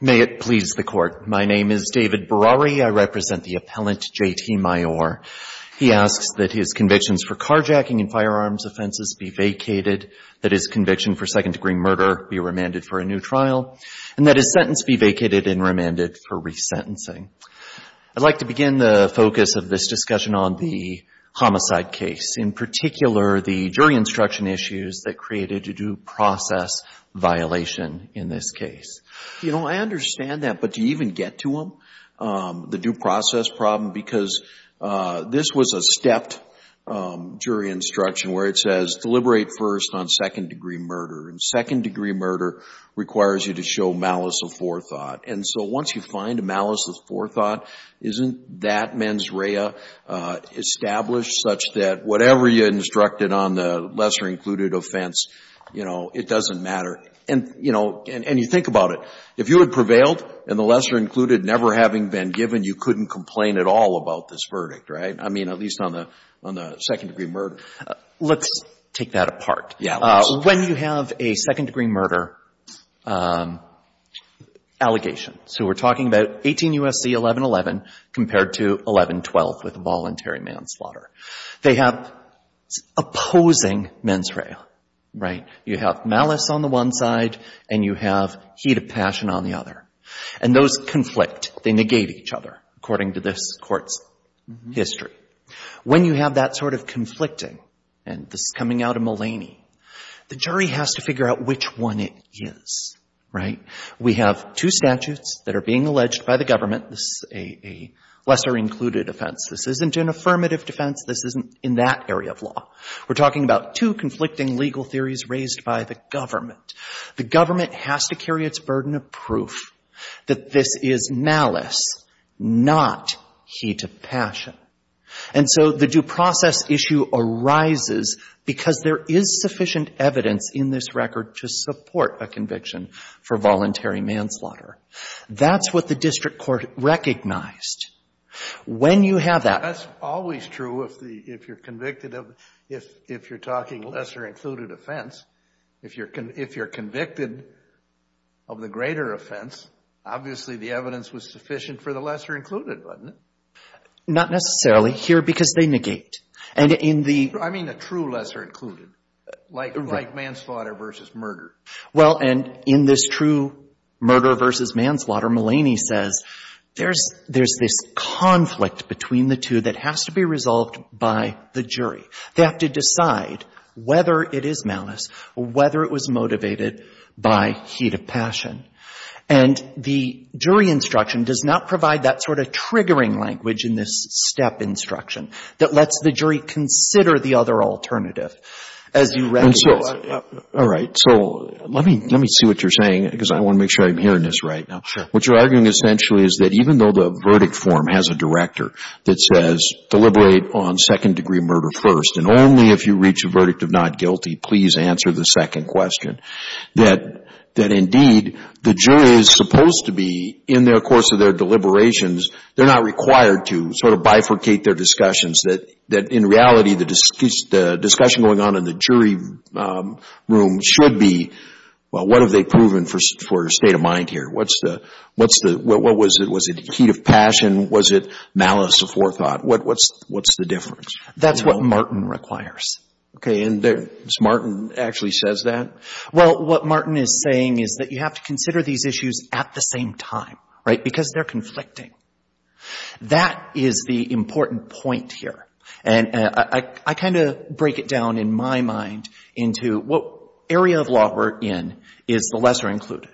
May it please the Court. My name is David Berrari. I represent the appellant JT Myore. He asks that his convictions for carjacking and firearms offenses be vacated, that his conviction for second-degree murder be remanded for a new trial, and that his sentence be vacated and remanded for resentencing. I'd like to begin the focus of this discussion on the homicide case, in particular the jury instruction issues that created a due process violation in this case. You know, I understand that, but do you even get to them, the due process problem? Because this was a stepped jury instruction where it says deliberate first on second-degree murder, and second-degree murder requires you to show malice of forethought. And so once you find malice of forethought, isn't that mens rea established such that whatever you instructed on the lesser-included offense, you know, it doesn't matter? And, you know, and you think about it. If you had prevailed and the lesser-included never having been given, you couldn't complain at all about this verdict, right? I mean, at least on the second-degree murder. Let's take that apart. Yeah, let's. When you have a second-degree murder allegation, so we're talking about 18 U.S.C. 1111 compared to 1112 with a voluntary manslaughter, they have opposing mens rea, right? You have malice on the one side, and you have heat of passion on the other. And those conflict. They negate each other, according to this Court's history. When you have that sort of conflicting, and this is coming out of Mullaney, the jury has to figure out which one it is, right? We have two statutes that are being alleged by the government. This is a lesser-included offense. This isn't an affirmative defense. This isn't in that area of law. We're talking about two conflicting legal theories raised by the government. The government has to carry its burden of proof that this is malice, not heat of passion. And so the due process issue arises because there is sufficient evidence in this record to support a conviction for voluntary manslaughter. That's what the district court recognized. When you have that. That's always true if the — if you're convicted of — if you're talking lesser-included offense, if you're — if you're convicted of the greater offense, obviously the evidence was sufficient for the lesser-included, wasn't it? Not necessarily here because they negate. And in the — I mean a true lesser-included, like manslaughter versus murder. Well, and in this true murder versus manslaughter, Mullaney says there's — there's this conflict between the two that has to be resolved by the jury. They have to decide whether it is malice or whether it was motivated by heat of passion. And the jury instruction does not provide that sort of triggering language in this step instruction that lets the jury consider the other alternative, as you recognize. And so — all right. So let me — let me see what you're saying because I want to make sure I'm hearing this right now. Sure. What you're arguing essentially is that even though the verdict form has a director that says deliberate on second-degree murder first, and only if you reach a verdict of not guilty, please answer the second question, that — that indeed the jury is supposed to be, in the course of their deliberations, they're not required to sort of bifurcate their discussions. That — that in reality, the discussion going on in the jury room should be, well, what have they proven for state of mind here? What's the — what's the — what was it? Heat of passion, was it malice of forethought? What — what's — what's the difference? That's what Martin requires. Okay. And there's — Martin actually says that? Well, what Martin is saying is that you have to consider these issues at the same time, right, because they're conflicting. That is the important point here. And I — I kind of break it down in my mind into what area of law we're in is the lesser included.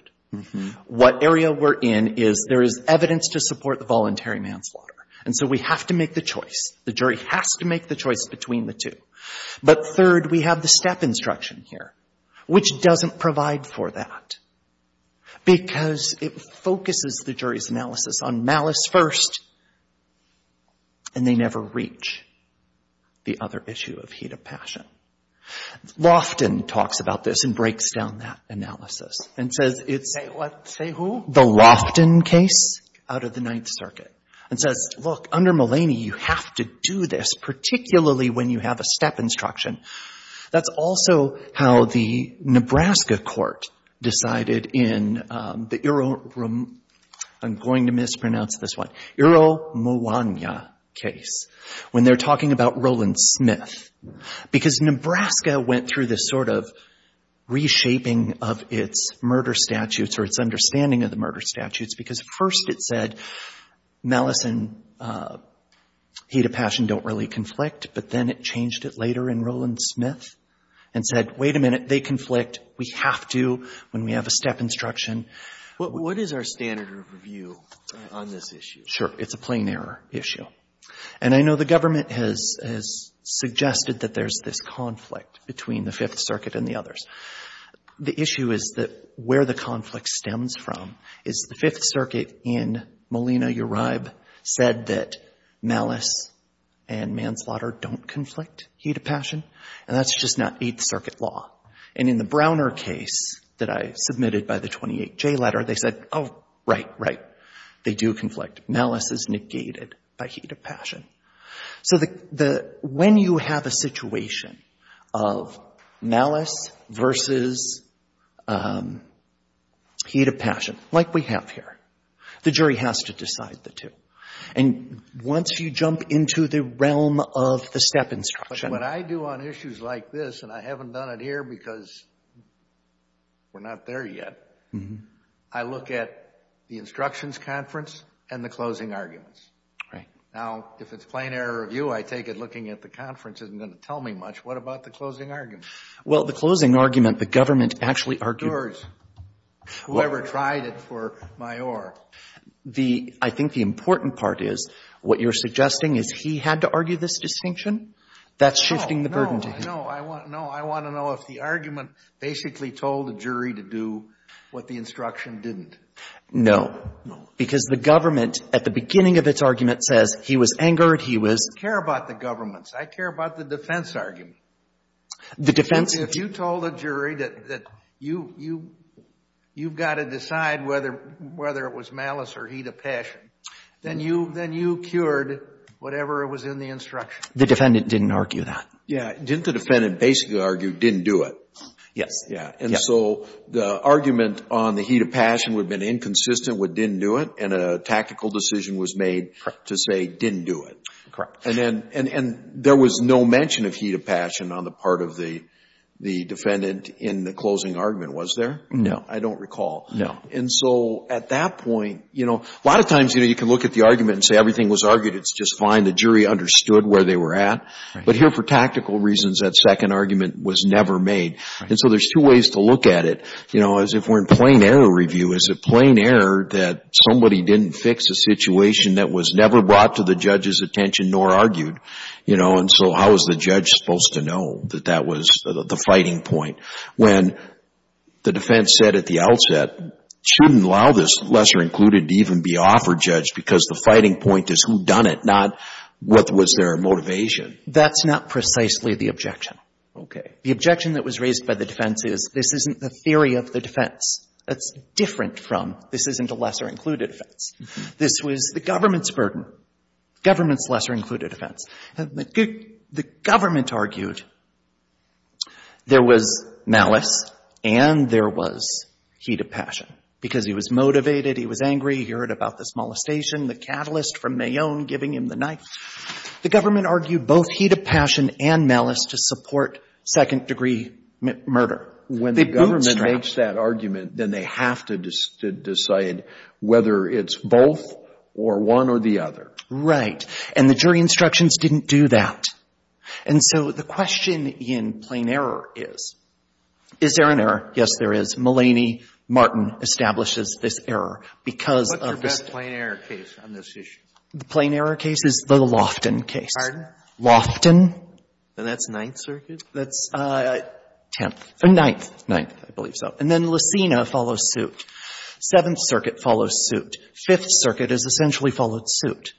What area we're in is there is evidence to support the voluntary manslaughter. And so we have to make the choice. The jury has to make the choice between the two. But third, we have the step instruction here, which doesn't provide for that because it focuses the jury's analysis on malice first, and they never reach the other issue of heat of passion. Loftin talks about this and breaks down that analysis and says it's — Say what? Say who? The Loftin case out of the Ninth Circuit and says, look, under Mulaney, you have to do this, particularly when you have a step instruction. That's also how the Nebraska court decided in the — I'm going to mispronounce this one — Eero Mwanya case, when they're talking about Roland Smith, because Nebraska went through this sort of reshaping of its murder statutes or its understanding of the murder statutes, because first it said malice and heat of passion don't really conflict, but then it changed it later in Roland Smith and said, wait a minute, they conflict, we have to, when we have a step instruction. What is our standard of review on this issue? Sure. It's a plain error issue. And I know the government has suggested that there's this conflict between the Fifth Circuit and the others. The issue is that where the stems from is the Fifth Circuit in Molina-Uribe said that malice and manslaughter don't conflict, heat of passion, and that's just not Eighth Circuit law. And in the Browner case that I submitted by the 28J letter, they said, oh, right, right, they do conflict. Malice is negated by heat of passion. So when you have a situation of malice versus heat of passion, like we have here, the jury has to decide the two. And once you jump into the realm of the step instruction. But what I do on issues like this, and I haven't done it here because we're not there yet, I look at the instructions conference and the closing arguments. Right. Now, if it's plain error review, I take it looking at the conference isn't going to tell me much. What about the closing argument? Well, the closing argument, the government actually argued. Doors. Whoever tried it for Mayor. The, I think the important part is what you're suggesting is he had to argue this distinction. That's shifting the burden to him. No, no. I want to know if the argument basically told the jury to do what the instruction didn't. No, because the government at the beginning of its argument says he was angered, he was. I don't care about the governments. I care about the defense argument. The defense. If you told a jury that you've got to decide whether it was malice or heat of passion, then you cured whatever was in the instruction. The defendant didn't argue that. Yeah. Didn't the defendant basically argue didn't do it? Yes. And so the argument on the heat of passion would have been inconsistent with didn't do it. And a tactical decision was made to say didn't do it. And there was no mention of heat of passion on the part of the defendant in the closing argument, was there? No. I don't recall. No. And so at that point, you know, a lot of times, you know, you can look at the argument and say everything was argued. It's just fine. The jury understood where they were at. But here for tactical reasons, that second argument was never made. And so there's two ways to look at it. You know, as if we're in plain error review, is it plain error that somebody didn't fix a situation that was never brought to the judge's attention nor argued? You know, and so how is the judge supposed to know that that was the fighting point? When the defense said at the outset, shouldn't allow this lesser included to even be offered, Judge, because the fighting point is who done it, not what was their motivation. That's not precisely the objection. Okay. The objection that was raised by the defense is this isn't the theory of the defense. That's different from this isn't a lesser included offense. This was the government's burden, government's lesser included offense. The government argued there was malice and there was heat of passion because he was motivated. He was angry. He heard about this molestation, the catalyst from Mayonne giving him the knife. The government argued both heat of passion and malice to support second degree murder. When the government makes that argument, then they have to decide whether it's both or one or the other. Right. And the jury instructions didn't do that. And so the question in plain error is, is there an error? Yes, there is. Mulaney, Martin establishes this error because of this. What's your best plain error case on this issue? The plain error case is the Lofton case. Pardon? Lofton. And that's Ninth Circuit? That's Tenth. Ninth. Ninth, I believe so. And then Lucina follows suit. Seventh Circuit follows suit. Fifth Circuit has essentially followed suit.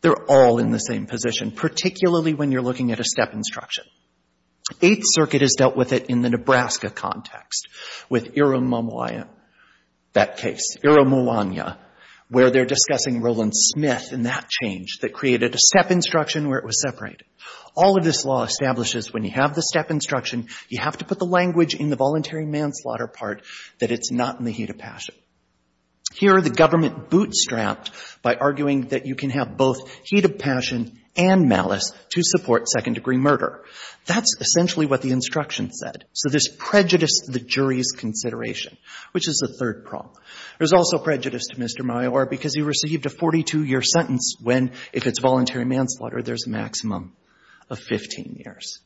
They're all in the same position, particularly when you're looking at a step instruction. Eighth Circuit has dealt with it in the Nebraska context with Ira Muwanya, that case. Ira Muwanya, where they're discussing Roland Smith and that change that created a step instruction where it was separated. All of this law establishes when you have the step instruction, you have to put the language in the voluntary manslaughter part that it's not in the heat of passion. Here, the government bootstrapped by arguing that you can have both heat of passion and malice to support second degree murder. That's essentially what the instruction said. So there's prejudice to the jury's consideration, which is the third problem. There's also prejudice to Mr. Maior because he received a 42-year sentence when, if it's voluntary manslaughter, there's a maximum of 15 years.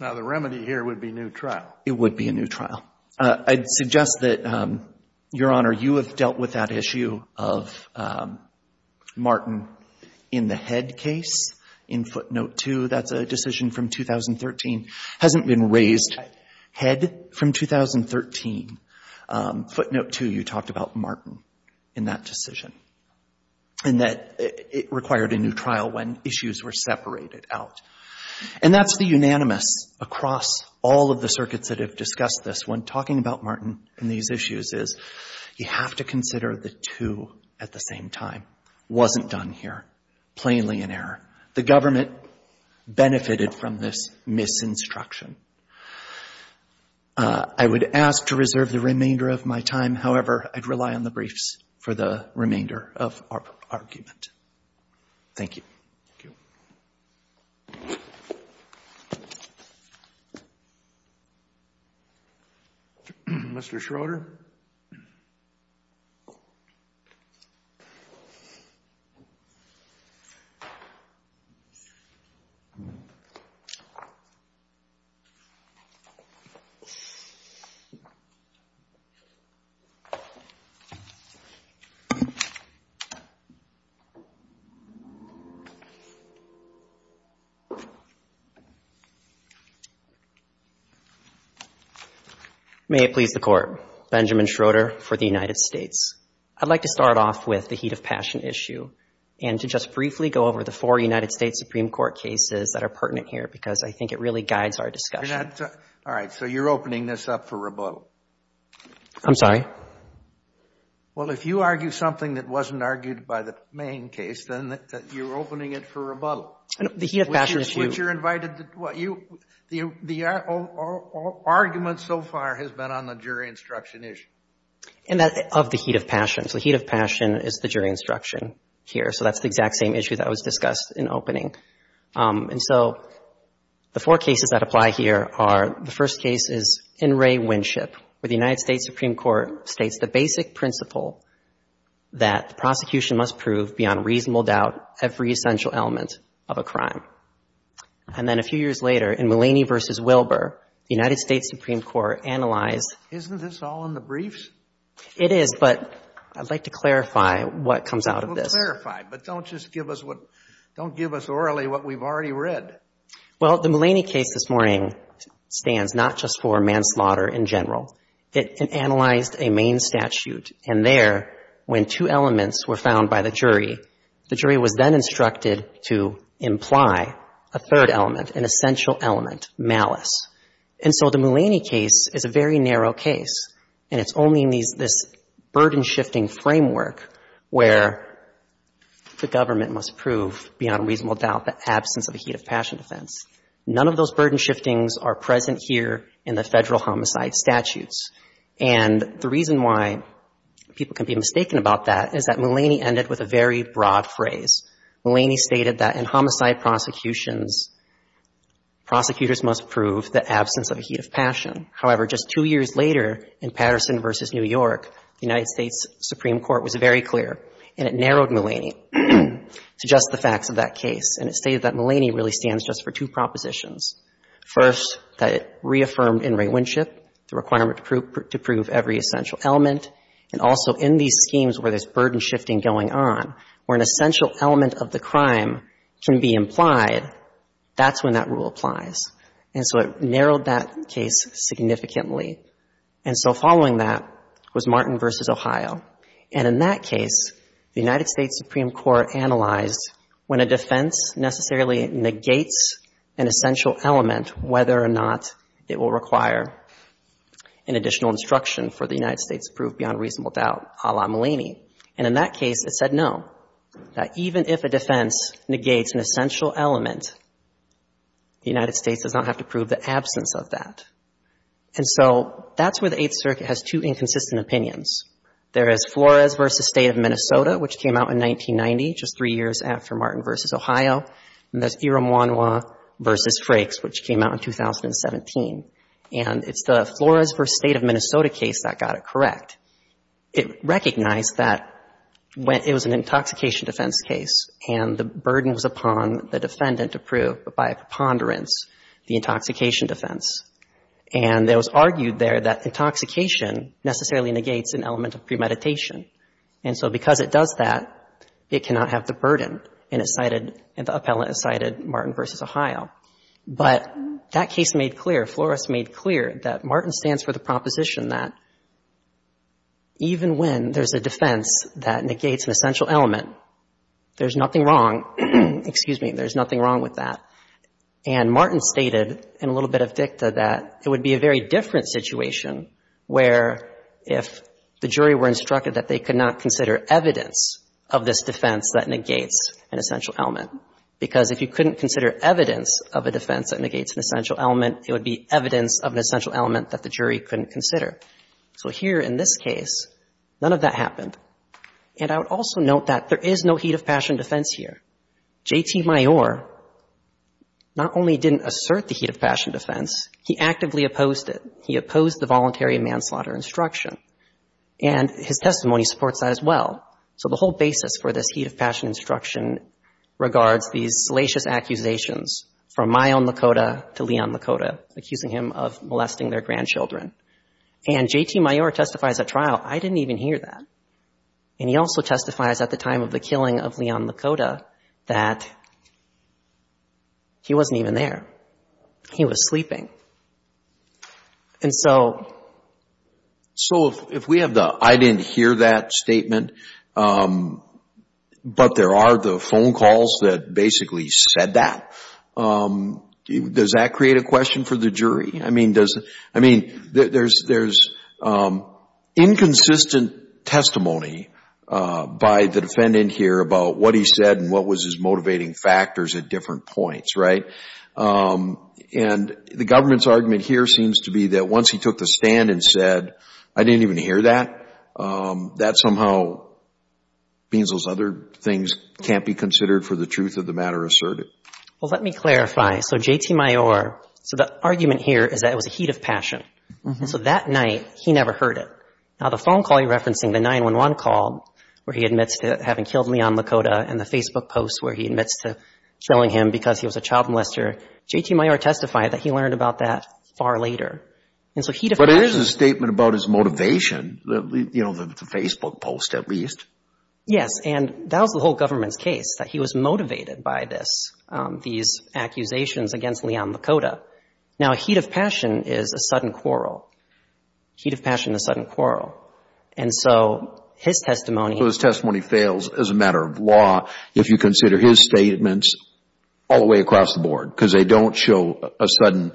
Now, the remedy here would be new trial. It would be a new trial. I'd suggest that, Your Honor, you have dealt with that issue of Martin in the Head case in footnote two. That's a decision from 2013. Hasn't been raised. Head from 2013. Footnote two, you talked about Martin in that decision and that it required a new trial when issues were separated out. And that's the unanimous across all of the circuits that have discussed this. When talking about Martin and these issues is you have to consider the two at the same time. Wasn't done here. Plainly an error. The government benefited from this misinstruction. I would ask to reserve the remainder of my time. However, I'd rely on the briefs for the remainder of our argument. Thank you. Thank you. Mr. Schroeder. May it please the Court. Benjamin Schroeder for the United States. I'd like to start off with the heat of passion issue and to just briefly go over the four United States Supreme Court cases that are pertinent here because I think it really guides our discussion. All right. So you're opening this up for rebuttal. I'm sorry. Well, if you argue something that wasn't argued by the main case, then you're opening it for rebuttal. The heat of passion issue. Which you're invited to. Well, the argument so far has been on the jury instruction issue. And that's of the heat of passion. So the heat of passion is the jury instruction here. So that's the exact same issue that was discussed in opening. And so the four cases that apply here are the first case is In re Winship, where the United States Supreme Court states the basic principle that the prosecution must prove beyond reasonable doubt every essential element of a crime. And then a few years later, in Mulaney v. Wilbur, the United States Supreme Court analyzed — Isn't this all in the briefs? It is, but I'd like to clarify what comes out of this. Well, clarify. But don't just give us what — don't give us orally what we've already read. Well, the Mulaney case this morning stands not just for manslaughter in general. It analyzed a main statute. And there, when two elements were found by the jury, the jury was then instructed to imply a third element, an essential element, malice. And so the Mulaney case is a very narrow case. And it's only in this burden-shifting framework where the government must prove beyond reasonable doubt the absence of a heat of passion defense. None of those burden shiftings are present here in the federal homicide statutes. And the reason why people can be mistaken about that is that Mulaney ended with a very broad phrase. Mulaney stated that in homicide prosecutions, prosecutors must prove the absence of a heat of passion. However, just two years later, in Patterson v. New York, the United States Supreme Court was very clear, and it narrowed Mulaney to just the facts of that case. And it stated that Mulaney really stands just for two propositions. First, that it reaffirmed in rewinship the requirement to prove every essential element. And also, in these schemes where there's burden shifting going on, where an essential element of the crime can be implied, that's when that rule applies. And so it narrowed that case significantly. And so following that was Martin v. Ohio. And in that case, the United States Supreme Court analyzed when a defense necessarily negates an essential element, whether or not it will require an additional instruction for the United States to prove beyond reasonable doubt a la Mulaney. And in that case, it said, no, that even if a defense negates an essential element, the United States does not have to prove the absence of that. And so that's where the Eighth Circuit has two inconsistent opinions. There is Flores v. State of Minnesota, which came out in 1990, just three years after Martin v. Ohio. And there's Irumwanwa v. Frakes, which came out in 2017. And it's the Flores v. State of Minnesota case that got it correct. It recognized that it was an intoxication defense case, and the burden was upon the defendant to prove, by preponderance, the intoxication defense. And it was argued there that intoxication necessarily negates an element of premeditation. And so because it does that, it cannot have the burden. And it cited, and the appellant cited Martin v. Ohio. But that case made clear, Flores made clear that Martin stands for the proposition that even when there's a defense that negates an essential element, there's nothing wrong, excuse me, there's nothing wrong with that. And Martin stated in a little bit of dicta that it would be a very different situation where if the jury were instructed that they could not consider evidence of this defense that negates an essential element. Because if you couldn't consider evidence of a defense that negates an essential element, it would be evidence of an essential element that the jury couldn't consider. So here in this case, none of that happened. And I would also note that there is no heat of passion defense here. J.T. Mayor not only didn't assert the heat of passion defense, he actively opposed it. He opposed the voluntary manslaughter instruction. And his testimony supports that as well. So the whole basis for this heat of passion instruction regards these salacious accusations from Mayon Lakota to Leon Lakota, accusing him of molesting their grandchildren. And J.T. Mayor testifies at trial, I didn't even hear that. And he also testifies at the time of the killing of Leon Lakota that he wasn't even there. He was sleeping. And so. So if we have the I didn't hear that statement, but there are the phone calls that basically said that, does that create a question for the jury? I mean, there's inconsistent testimony by the defendant here about what he said and what was his motivating factors at different points, right? And the government's argument here seems to be that once he took the stand and said, I didn't even hear that, that somehow means those other things can't be considered for the truth of the matter asserted. Well, let me clarify. So J.T. Mayor, so the argument here is that it was a heat of passion. So that night, he never heard it. Now, the phone call you're referencing, the 911 call where he admits to having killed Leon Lakota and the Facebook post where he admits to killing him because he was a child molester, J.T. Mayor testified that he learned about that far later. And so heat of passion. But it is a statement about his motivation, you know, the Facebook post, at least. Yes. And that was the whole government's case, that he was motivated by this, these accusations against Leon Lakota. Now, heat of passion is a sudden quarrel. Heat of passion, a sudden quarrel. And so his testimony. So his testimony fails as a matter of law if you consider his statements all the way across the board because they don't show a sudden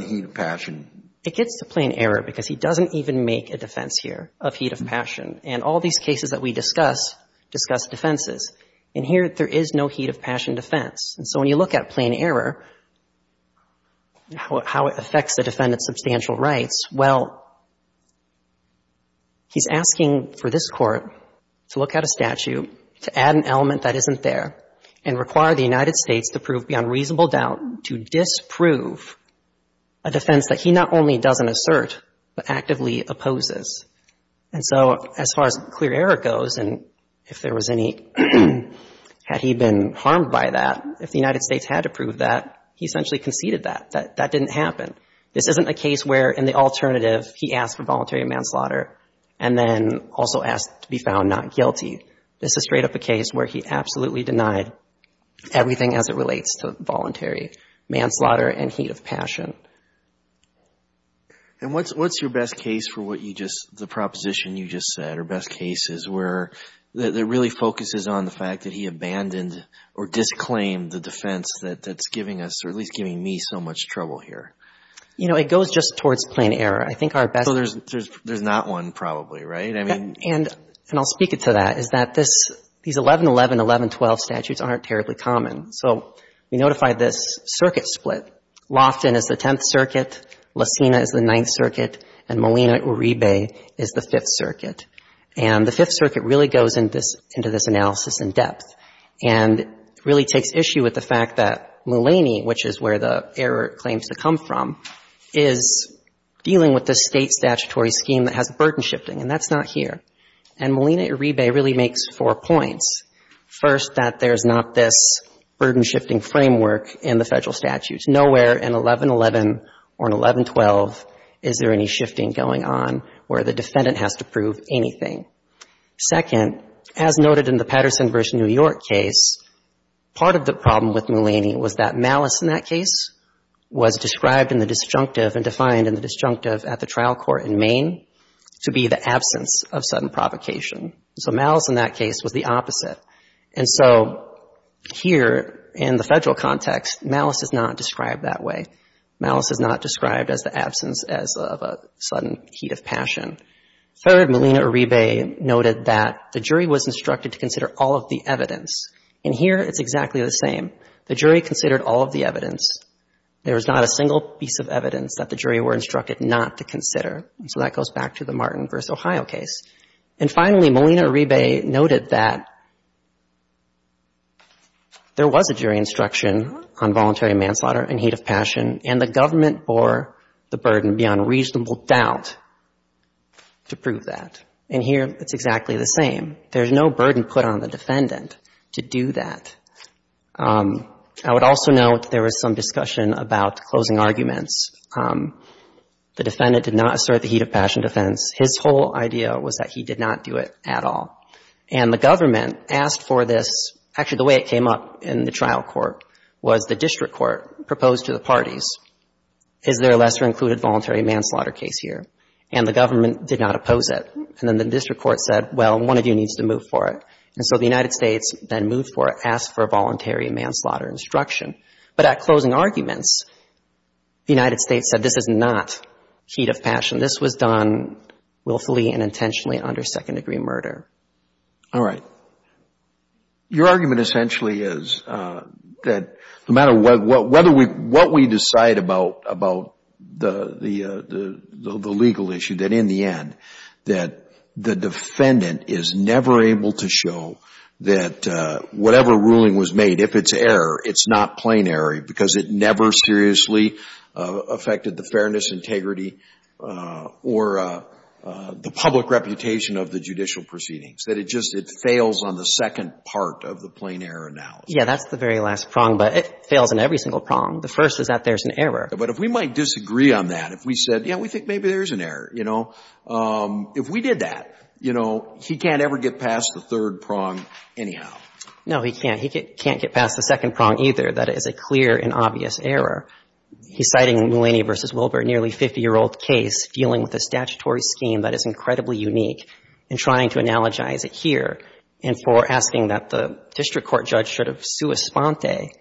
heat of passion. It gets to plain error because he doesn't even make a defense here of heat of passion. And all these cases that we discuss, discuss defenses. And here, there is no heat of passion defense. And so when you look at plain error, how it affects the defendant's substantial rights, well, he's asking for this Court to look at a statute, to add an element that isn't there, and require the United States to prove beyond reasonable doubt to disprove a defense that he not only doesn't assert, but actively opposes. And so as far as clear error goes, and if there was any, had he been harmed by that, if the United States had to prove that, he essentially conceded that, that didn't happen. This isn't a case where, in the alternative, he asked for voluntary manslaughter and then also asked to be found not guilty. This is straight up a case where he absolutely denied everything as it relates to voluntary manslaughter and heat of passion. And what's your best case for what you just, the proposition you just said, or best cases where it really focuses on the fact that he abandoned or disclaimed the defense that's giving us, or at least giving me so much trouble here? You know, it goes just towards plain error. I think our best... So there's not one probably, right? And I'll speak it to that, is that this, these 1111, 1112 statutes aren't terribly common. So we notify this circuit split. Loftin is the 10th circuit, Lacina is the 9th circuit, and Molina-Uribe is the 5th circuit. And the 5th circuit really goes into this analysis in depth and really takes issue with the fact that Mulaney, which is where the error claims to come from, is dealing with the state statutory scheme that has burden shifting, and that's not here. And Molina-Uribe really makes four points. First, that there's not this burden shifting framework in the federal statutes. Nowhere in 1111 or in 1112 is there any shifting going on where the defendant has to prove anything. Second, as noted in the Patterson v. New York case, part of the problem with Mulaney was that malice in that case was described in the disjunctive and defined in the disjunctive at the trial court in Maine to be the absence of sudden provocation. So malice in that case was the opposite. And so here in the federal context, malice is not described that way. Malice is not described as the absence as of a sudden heat of passion. Third, Molina-Uribe noted that the jury was instructed to consider all of the evidence. And here it's exactly the same. The jury considered all of the evidence. There was not a single piece of evidence that the jury were instructed not to consider. So that goes back to the Martin v. Ohio case. And finally, Molina-Uribe noted that there was a jury instruction on voluntary manslaughter and heat of passion, and the government bore the burden beyond reasonable doubt to prove that. And here it's exactly the same. There's no burden put on the defendant to do that. I would also note there was some discussion about closing arguments. The defendant did not assert the heat of passion defense. His whole idea was that he did not do it at all. And the government asked for this. Actually, the way it came up in the trial court was the district court proposed to the parties, is there a lesser included voluntary manslaughter case here? And the government did not oppose it. And then the district court said, well, one of you needs to move for it. And so the United States then moved for it, asked for voluntary manslaughter instruction. But at closing arguments, the United States said this is not heat of passion. This was done willfully and intentionally under second-degree murder. All right. Your argument essentially is that no matter what we decide about the legal issue, that in the end, that the defendant is never able to show that whatever ruling was made, if it's error, it's not plain error because it never seriously affected the fairness, integrity, or the public reputation of the judicial proceedings. That it just, it fails on the second part of the plain error analysis. Yeah, that's the very last prong, but it fails in every single prong. The first is that there's an error. But if we might disagree on that, if we said, yeah, we think maybe there's an error, you know, if we did that, you know, he can't ever get past the third prong anyhow. No, he can't. He can't get past the second prong either. That is a clear and obvious error. He's citing Melania v. Wilbur, a nearly 50-year-old case, dealing with a statutory scheme that is incredibly unique and trying to analogize it here. And for asking that the district court judge should have sua sponte,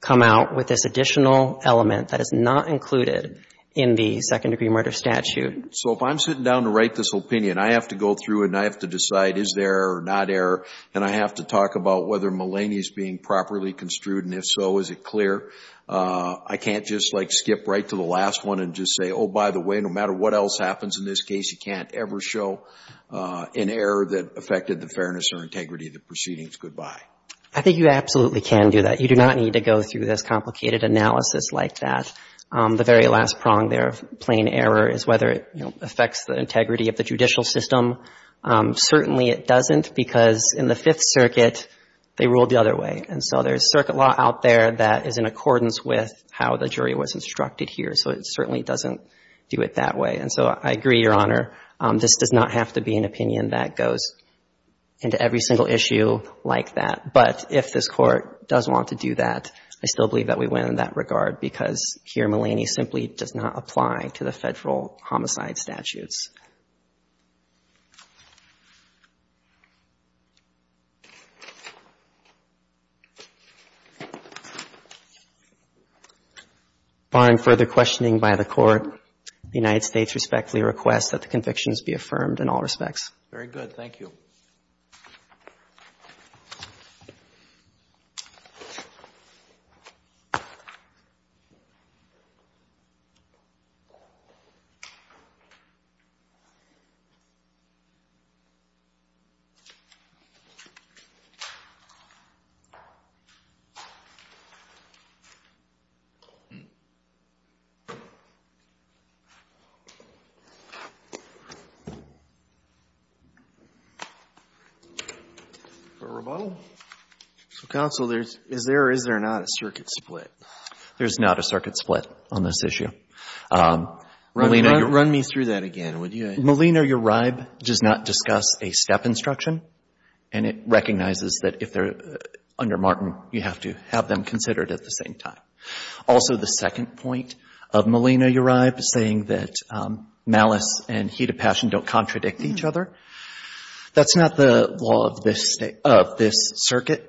come out with this additional element that is not included in the second-degree murder statute. So if I'm sitting down to write this opinion, I have to go through and I have to decide, is there or not error? And I have to talk about whether Melania is being properly construed, and if so, is it clear? I can't just like skip right to the last one and just say, oh, by the way, no matter what else happens in this case, you can't ever show an error that affected the fairness or integrity of the proceedings. Goodbye. I think you absolutely can do that. You do not need to go through this complicated analysis like that. The very last prong there of plain error is whether it, you know, affects the integrity of the judicial system. Certainly, it doesn't because in the Fifth Circuit, they ruled the other way. And so there's circuit law out there that is in accordance with how the jury was instructed here. So it certainly doesn't do it that way. And so I agree, Your Honor, this does not have to be an opinion that goes into every single issue like that. But if this Court does want to do that, I still believe that we win in that regard because here, Melania simply does not apply to the federal homicide statutes. Thank you. Barring further questioning by the Court, the United States respectfully requests that the convictions be affirmed in all respects. Very good. Thank you. For a rebuttal? So, Counsel, is there or is there not a circuit split? There's not a circuit split on this issue. Run me through that again, would you? Melina, your ribe does not discuss a step instruction, and it recognizes that if they're under Martin, you have to have them considered at the same time. Also, the second point of Melina, your ribe, saying that malice and heat of passion don't contradict each other, that's not the law of this circuit,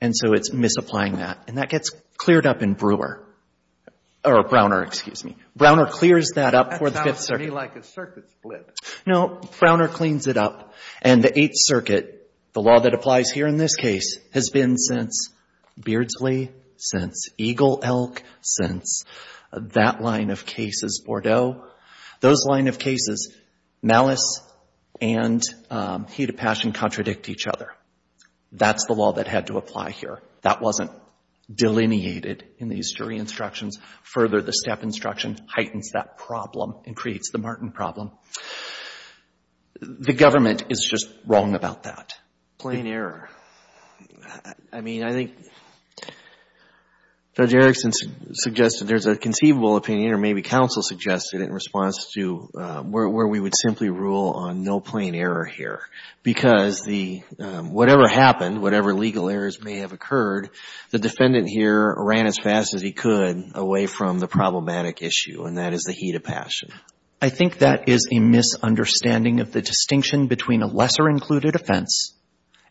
and so it's misapplying that. And that gets cleared up in Brewer, or Browner, excuse me. Browner clears that up for the Fifth Circuit. That sounds to me like a circuit split. No, Browner cleans it up. And the Eighth Circuit, the law that applies here in this case, has been since Beardsley, since Eagle Elk, since that line of cases, Bordeaux. Those line of cases, malice and heat of passion contradict each other. That's the law that had to apply here. That wasn't delineated in the history instructions. Further, the step instruction heightens that problem and creates the Martin problem. The government is just wrong about that. Plain error. I mean, I think Judge Erickson suggested there's a conceivable opinion, or maybe counsel suggested it in response to where we would simply rule on no plain error here. Because whatever happened, whatever legal errors may have occurred, the defendant here ran as fast as he could away from the problematic issue, and that is the heat of passion. I think that is a misunderstanding of the distinction between a lesser-included offense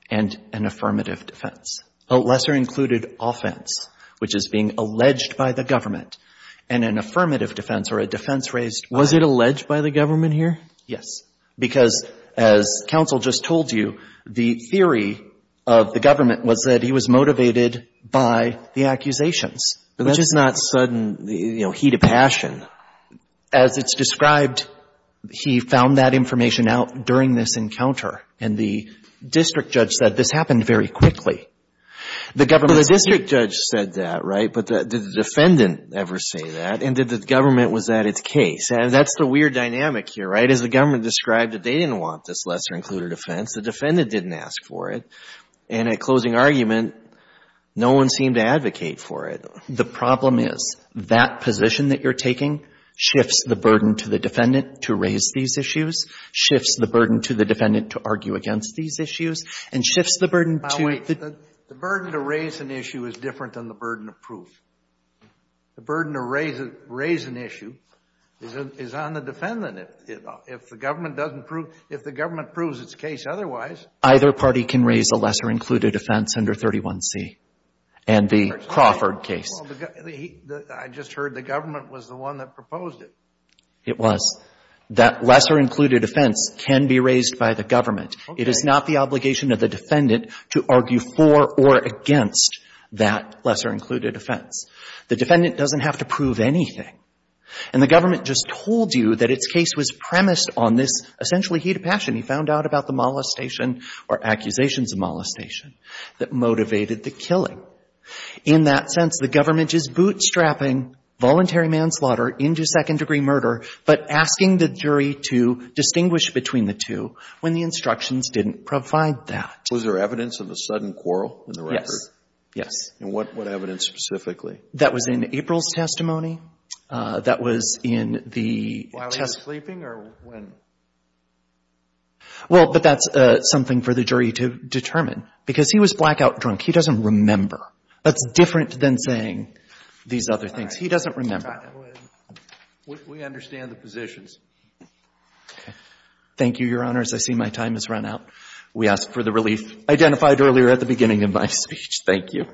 and an affirmative defense. A lesser-included offense, which is being alleged by the government, and an affirmative defense, or a defense raised by— Was it alleged by the government here? Yes. Because as counsel just told you, the theory of the government was that he was motivated by the accusations, which is not sudden, you know, heat of passion. As it's described, he found that information out during this encounter, and the district judge said this happened very quickly. The district judge said that, right? But did the defendant ever say that? And did the government, was that its case? That's the weird dynamic here, right? As the government described it, they didn't want this lesser-included offense. The defendant didn't ask for it. And at closing argument, no one seemed to advocate for it. The problem is that position that you're taking shifts the burden to the defendant to raise these issues, shifts the burden to the defendant to argue against these issues, and shifts the burden to— Now, wait. The burden to raise an issue is different than the burden of proof. The burden to raise an issue is on the defendant. If the government doesn't prove — if the government proves its case otherwise— Either party can raise a lesser-included offense under 31C. And the Crawford case. Well, I just heard the government was the one that proposed it. It was. That lesser-included offense can be raised by the government. It is not the obligation of the defendant to argue for or against that lesser-included offense. The defendant doesn't have to prove anything. And the government just told you that its case was premised on this essentially heat of passion. He found out about the molestation or accusations of molestation that motivated the killing. In that sense, the government is bootstrapping voluntary manslaughter into second-degree murder, but asking the jury to distinguish between the two when the instructions didn't provide that. Was there evidence of a sudden quarrel in the record? Yes. Yes. And what evidence specifically? That was in April's testimony. That was in the test— While he was sleeping or when? Well, but that's something for the jury to determine. Because he was blackout drunk. He doesn't remember. That's different than saying these other things. He doesn't remember. We understand the positions. Thank you, Your Honors. I see my time has run out. We ask for the relief identified earlier at the beginning of my speech. Thank you.